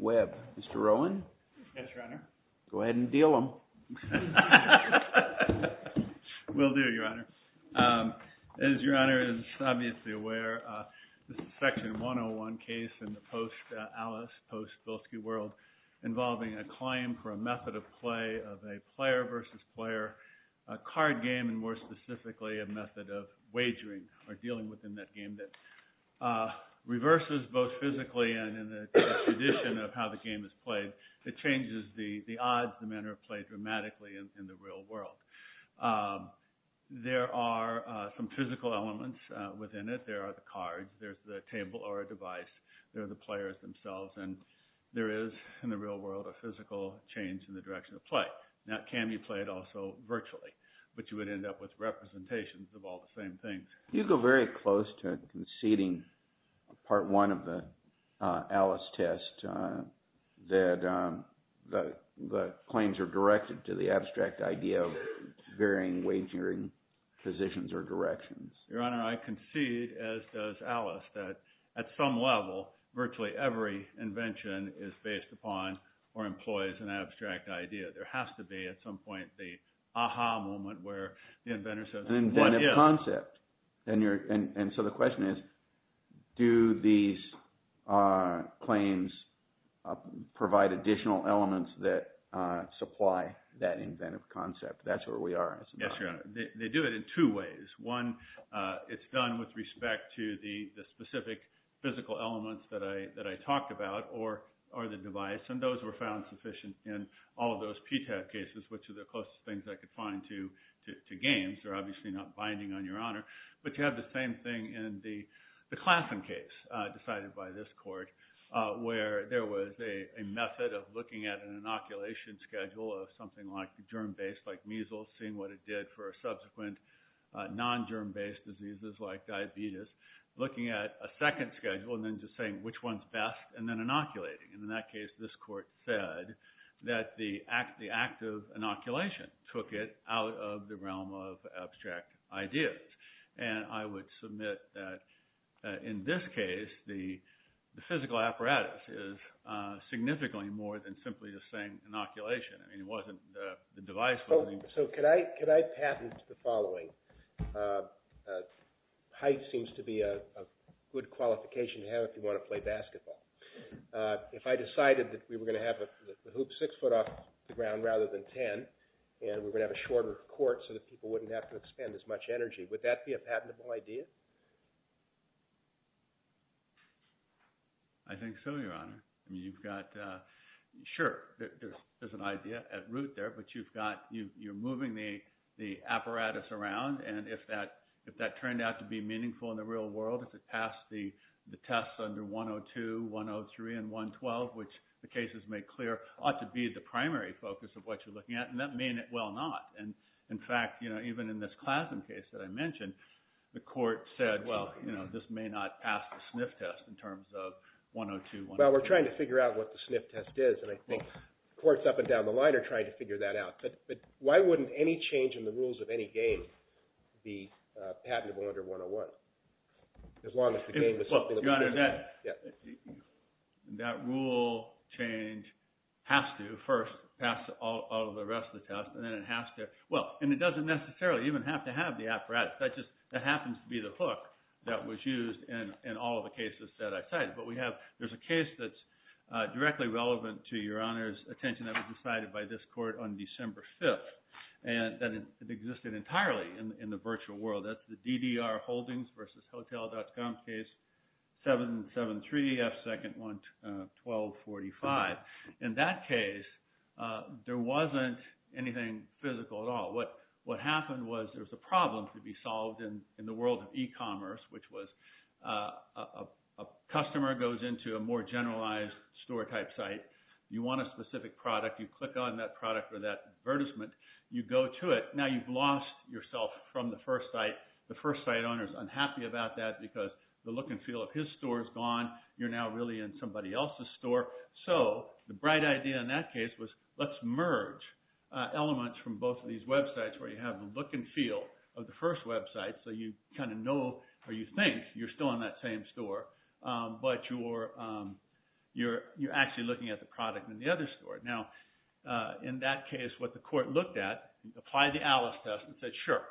Webb, Mr. Rowan, go ahead and deal him. We'll do, Your Honor. As Your Honor is obviously aware, this is a Section 101 case in the post-Alice, post-Bilski world involving a claim for a method of play of a player-versus-player card game, and more specifically, a method of wagering, or dealing within that game that reverses both physically and in the tradition of how the game is played. It changes the odds the men are played dramatically in the real world. There are some physical elements within it. There are the cards. There's the table or a device. There are the players themselves, and there is, in the real world, a physical change in the direction of play. Now, it can be played also virtually, but you would end up with representations of all the same things. You go very close to conceding, Part 1 of the Alice test, that the claims are directed to the abstract idea of varying wagering positions or directions. Your Honor, I concede, as does Alice, that at some level, virtually every invention is based upon or employs an abstract idea. There has to be at some point the aha moment where the inventor says what is. An inventive concept. And so the question is, do these claims provide additional elements that supply that inventive concept? That's where we are as a matter of fact. Yes, Your Honor. They do it in two ways. One, it's done with respect to the specific physical elements that I talked about or the device, and those were found sufficient in all of those PTAB cases, which are the closest things I could find to games. These are obviously not binding on Your Honor, but you have the same thing in the Klassen case decided by this court where there was a method of looking at an inoculation schedule of something like the germ-based, like measles, seeing what it did for subsequent non-germ-based diseases like diabetes, looking at a second schedule and then just saying which one's best, and then inoculating. And in that case, this court said that the act of inoculation took it out of the realm of abstract ideas. And I would submit that in this case, the physical apparatus is significantly more than simply the same inoculation. I mean, it wasn't the device. So could I patent the following? Height seems to be a good qualification to have if you want to play basketball. If I decided that we were going to have the hoop 6 foot off the ground rather than 10, and we were going to have a shorter court so that people wouldn't have to expend as much energy, would that be a patentable idea? I think so, Your Honor. I mean, you've got – sure, there's an idea at root there, but you've got – you're moving the apparatus around. And if that turned out to be meaningful in the real world, if it passed the tests under 102, 103, and 112, which the cases make clear, ought to be the primary focus of what you're looking at. And that may well not. And in fact, even in this Klassen case that I mentioned, the court said, well, this may not pass the sniff test in terms of 102, 103. Well, we're trying to figure out what the sniff test is, and I think courts up and down the line are trying to figure that out. But why wouldn't any change in the rules of any game be patentable under 101 as long as the game is something that – Your Honor, that rule change has to first pass all of the rest of the tests, and then it has to – well, and it doesn't necessarily even have to have the apparatus. That just – that happens to be the hook that was used in all of the cases that I cited. But we have – there's a case that's directly relevant to Your Honor's attention that was decided by this court on December 5th that existed entirely in the virtual world. That's the DDR Holdings v. Hotel.com case, 773F, second one, 1245. In that case, there wasn't anything physical at all. What happened was there was a problem to be solved in the world of e-commerce, which was a customer goes into a more generalized store-type site. You want a specific product. You click on that product or that advertisement. You go to it. Now, you've lost yourself from the first site. The first site owner is unhappy about that because the look and feel of his store is gone. You're now really in somebody else's store. So the bright idea in that case was let's merge elements from both of these websites where you have the look and feel of the first website so you kind of know or you think you're still in that same store, but you're actually looking at the product in the other store. Now, in that case, what the court looked at, applied the Alice test and said, sure,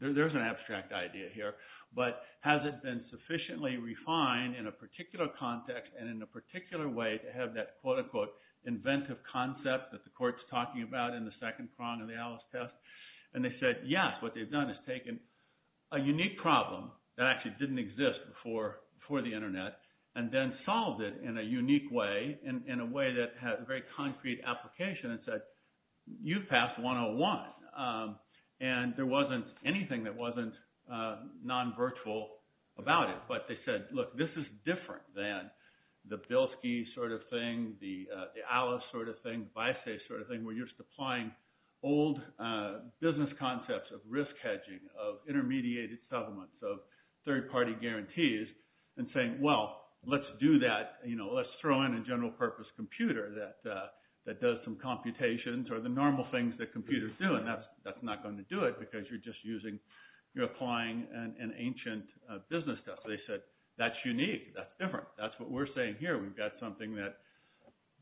there's an abstract idea here, but has it been sufficiently refined in a particular context and in a particular way to have that quote-unquote inventive concept that the court's talking about in the second prong of the Alice test? And they said, yes, what they've done is taken a unique problem that actually didn't exist before the internet and then solved it in a unique way, in a way that had a very concrete application and said, you've passed 101. And there wasn't anything that wasn't non-virtual about it, but they said, look, this is different than the Bilski sort of thing, the Alice sort of thing, the VISA sort of thing where you're supplying old business concepts of risk hedging, of intermediated settlements, of third-party guarantees and saying, well, let's do that. Let's throw in a general-purpose computer that does some computations or the normal things that computers do, and that's not going to do it because you're just applying an ancient business test. They said, that's unique. That's different. That's what we're saying here. We've got something that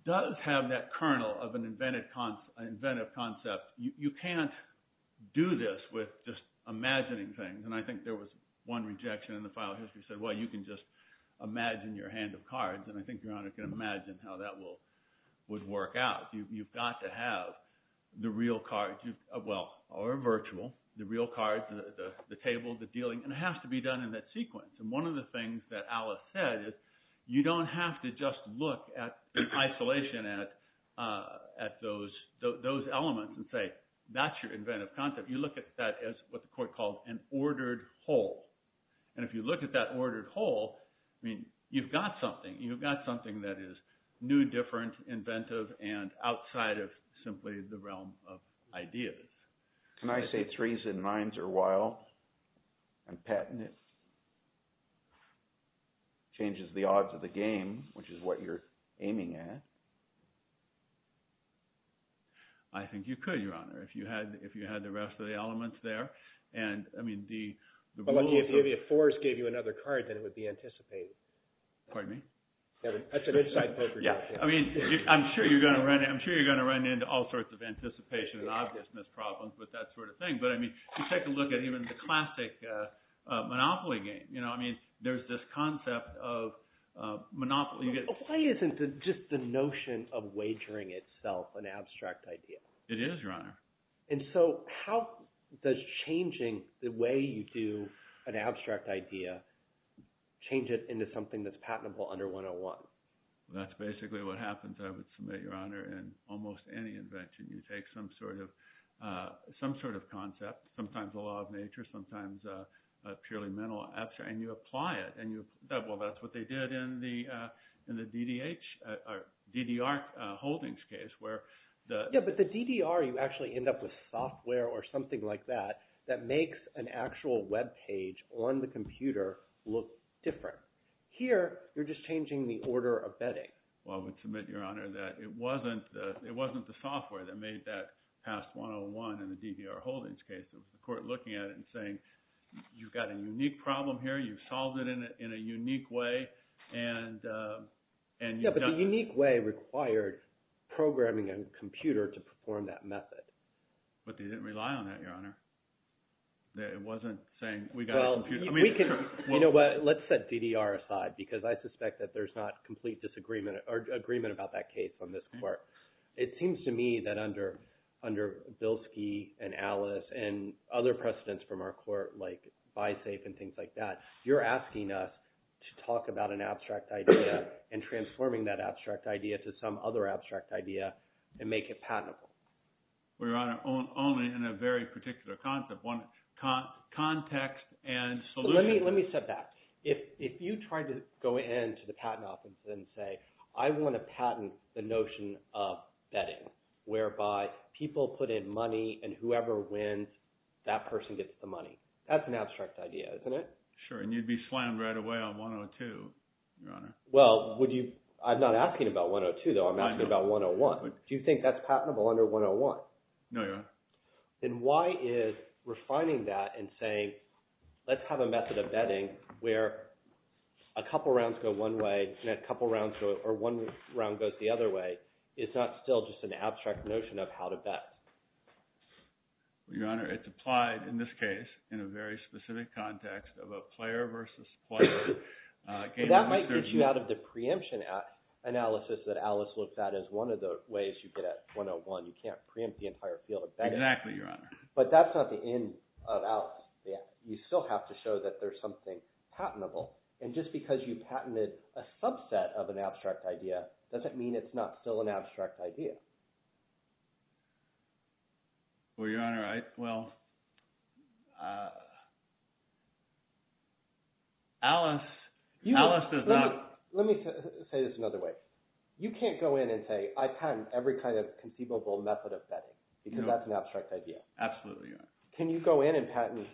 does have that kernel of an inventive concept. You can't do this with just imagining things. And I think there was one rejection in the file history that said, well, you can just imagine your hand of cards, and I think Your Honor can imagine how that would work out. You've got to have the real cards, well, or virtual, the real cards, the table, the dealing, and it has to be done in that sequence. And one of the things that Alice said is you don't have to just look at isolation at those elements and say, that's your inventive concept. You look at that as what the court called an ordered whole. And if you look at that ordered whole, you've got something. You've got something that is new, different, inventive, and outside of simply the realm of ideas. Can I say threes and nines are wild and patented? Changes the odds of the game, which is what you're aiming at. I think you could, Your Honor, if you had the rest of the elements there. But if fours gave you another card, then it would be anticipated. Pardon me? I'm sure you're going to run into all sorts of anticipation and obviousness problems with that sort of thing. But I mean, take a look at even the classic monopoly game. I mean, there's this concept of monopoly. Why isn't just the notion of wagering itself an abstract idea? It is, Your Honor. And so how does changing the way you do an abstract idea change it into something that's patentable under 101? That's basically what happens, I would submit, Your Honor, in almost any invention. You take some sort of concept, sometimes a law of nature, sometimes a purely mental abstract, and you apply it. Well, that's what they did in the DDR holdings case where the – Yeah, but the DDR, you actually end up with software or something like that that makes an actual web page on the computer look different. Here, you're just changing the order of betting. Well, I would submit, Your Honor, that it wasn't the software that made that past 101 in the DDR holdings case. It was the court looking at it and saying, you've got a unique problem here. You've solved it in a unique way. Yeah, but the unique way required programming a computer to perform that method. But they didn't rely on that, Your Honor. It wasn't saying we got a computer. Well, we can – you know what? Let's set DDR aside because I suspect that there's not complete disagreement or agreement about that case on this court. It seems to me that under Bilski and Alice and other precedents from our court like BiSafe and things like that, you're asking us to talk about an abstract idea and transforming that abstract idea to some other abstract idea and make it patentable. Your Honor, only in a very particular concept, context and solution. Let me step back. If you tried to go in to the patent office and say I want to patent the notion of betting whereby people put in money, and whoever wins, that person gets the money. That's an abstract idea, isn't it? Sure, and you'd be slammed right away on 102, Your Honor. Well, would you – I'm not asking about 102 though. I'm asking about 101. Do you think that's patentable under 101? No, Your Honor. Then why is refining that and saying let's have a method of betting where a couple rounds go one way and a couple rounds go – or one round goes the other way. It's not still just an abstract notion of how to bet. Your Honor, it's applied in this case in a very specific context of a player versus player. That might get you out of the preemption analysis that Alice looks at as one of the ways you get at 101. You can't preempt the entire field of betting. Exactly, Your Honor. But that's not the end of Alice. You still have to show that there's something patentable, and just because you patented a subset of an abstract idea doesn't mean it's not still an abstract idea. Well, Your Honor, I – well, Alice does not – Look, let me say this another way. You can't go in and say I patent every kind of conceivable method of betting because that's an abstract idea. Absolutely, Your Honor. Can you go in and patent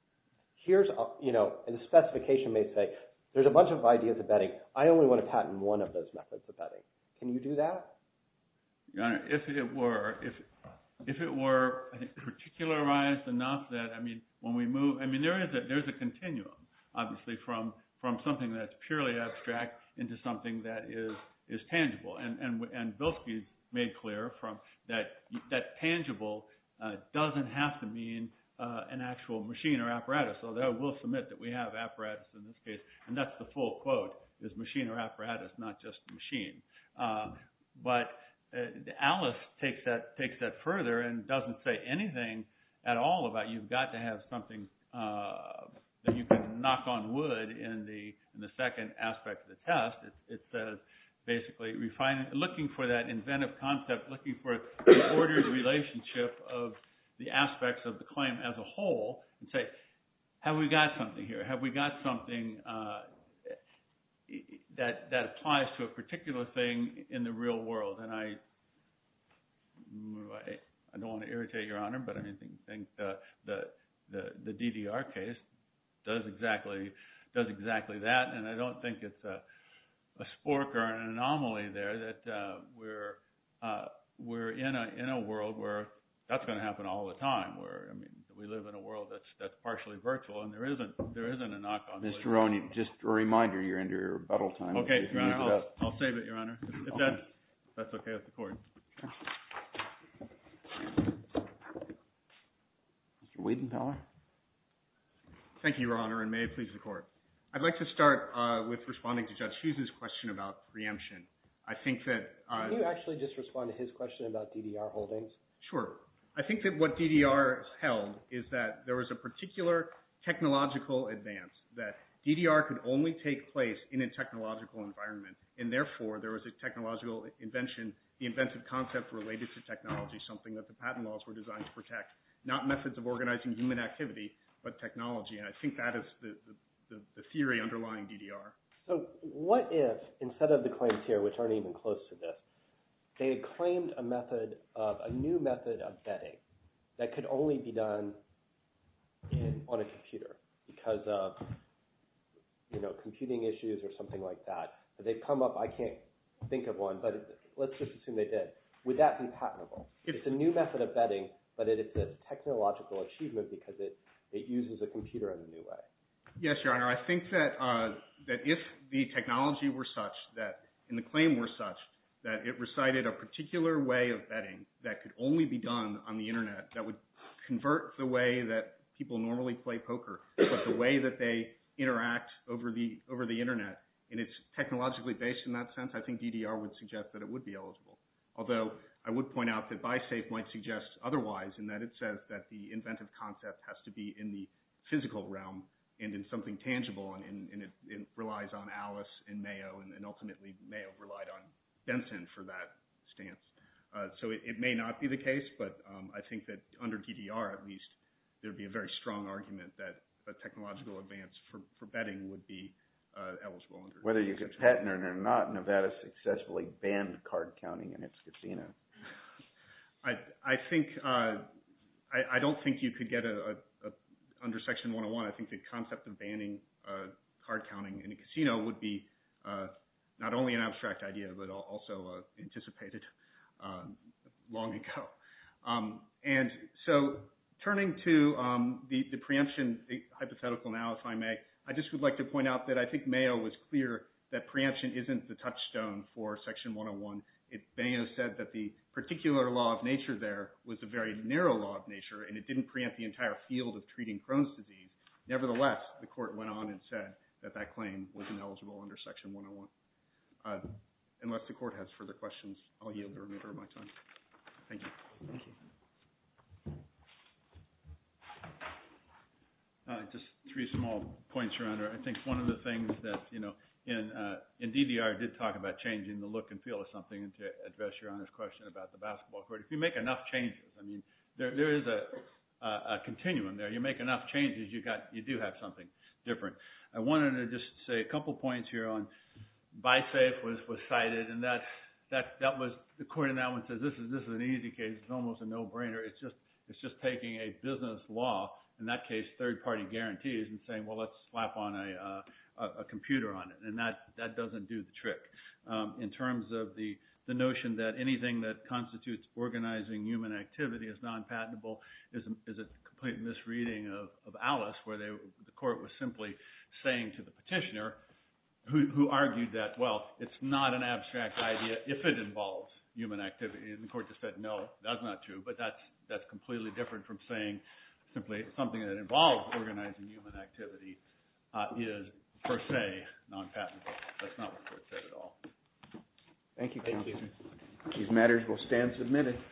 – here's – and the specification may say there's a bunch of ideas of betting. I only want to patent one of those methods of betting. Can you do that? Your Honor, if it were, I think, particularized enough that, I mean, when we move – I mean, there is a continuum, obviously, from something that's purely abstract into something that is tangible. And Bilski made clear that tangible doesn't have to mean an actual machine or apparatus, although we'll submit that we have apparatus in this case. And that's the full quote is machine or apparatus, not just machine. But Alice takes that further and doesn't say anything at all about you've got to have something that you can knock on wood in the second aspect of the test. It's basically looking for that inventive concept, looking for the ordered relationship of the aspects of the claim as a whole and say, have we got something here? Have we got something that applies to a particular thing in the real world? And I don't want to irritate Your Honor, but I think the DDR case does exactly that, and I don't think it's a spork or an anomaly there that we're in a world where that's going to happen all the time. I mean, we live in a world that's partially virtual, and there isn't a knock on wood. Mr. Roney, just a reminder, you're into your rebuttal time. Okay, Your Honor, I'll save it, Your Honor. If that's okay with the Court. Mr. Wiedenthaler. Thank you, Your Honor, and may it please the Court. I'd like to start with responding to Judge Hughes's question about preemption. I think that— Can you actually just respond to his question about DDR holdings? Sure. I think that what DDR held is that there was a particular technological advance, that DDR could only take place in a technological environment, and therefore, there was a technological invention, the inventive concept related to technology, something that the patent laws were designed to protect, not methods of organizing human activity, but technology, and I think that is the theory underlying DDR. So what if, instead of the claims here, which aren't even close to this, they had claimed a method of—a new method of betting that could only be done on a computer because of computing issues or something like that, but they come up—I can't think of one, but let's just assume they did. Would that be patentable? It's a new method of betting, but it's a technological achievement because it uses a computer in a new way. Yes, Your Honor. I think that if the technology were such that—and the claim were such that it recited a particular way of betting that could only be done on the internet, that would convert the way that people normally play poker, but the way that they interact over the internet, and it's technologically based in that sense, I think DDR would suggest that it would be eligible. Although I would point out that BiSafe might suggest otherwise in that it says that the inventive concept has to be in the physical realm and in something tangible, and it relies on Alice and Mayo, and ultimately Mayo relied on Benson for that stance. So it may not be the case, but I think that under DDR, at least, there would be a very strong argument that a technological advance for betting would be eligible. Whether you could patent it or not, Nevada successfully banned card counting in its casino. I don't think you could get under Section 101. I think the concept of banning card counting in a casino would be not only an abstract idea, but also anticipated long ago. And so turning to the preemption hypothetical now, if I may, I just would like to point out that I think Mayo was clear that preemption isn't the touchstone for Section 101. Mayo said that the particular law of nature there was a very narrow law of nature, and it didn't preempt the entire field of treating Crohn's disease. Nevertheless, the court went on and said that that claim was ineligible under Section 101. Unless the court has further questions, I'll yield the remainder of my time. Thank you. Thank you. Just three small points, Your Honor. I think one of the things that – in DDR, it did talk about changing the look and feel of something, and to address Your Honor's question about the basketball court. If you make enough changes, I mean, there is a continuum there. You make enough changes, you do have something different. I wanted to just say a couple points here on – BiSafe was cited, and the court in that one says this is an easy case. It's almost a no-brainer. It's just taking a business law, in that case third-party guarantees, and saying, well, let's slap a computer on it. In terms of the notion that anything that constitutes organizing human activity is non-patentable is a complete misreading of Alice, where the court was simply saying to the petitioner, who argued that, well, it's not an abstract idea if it involves human activity. The court just said, no, that's not true, but that's completely different from saying simply something that involves organizing human activity is per se non-patentable. That's not what the court said at all. Thank you. Thank you. These matters will stand submitted.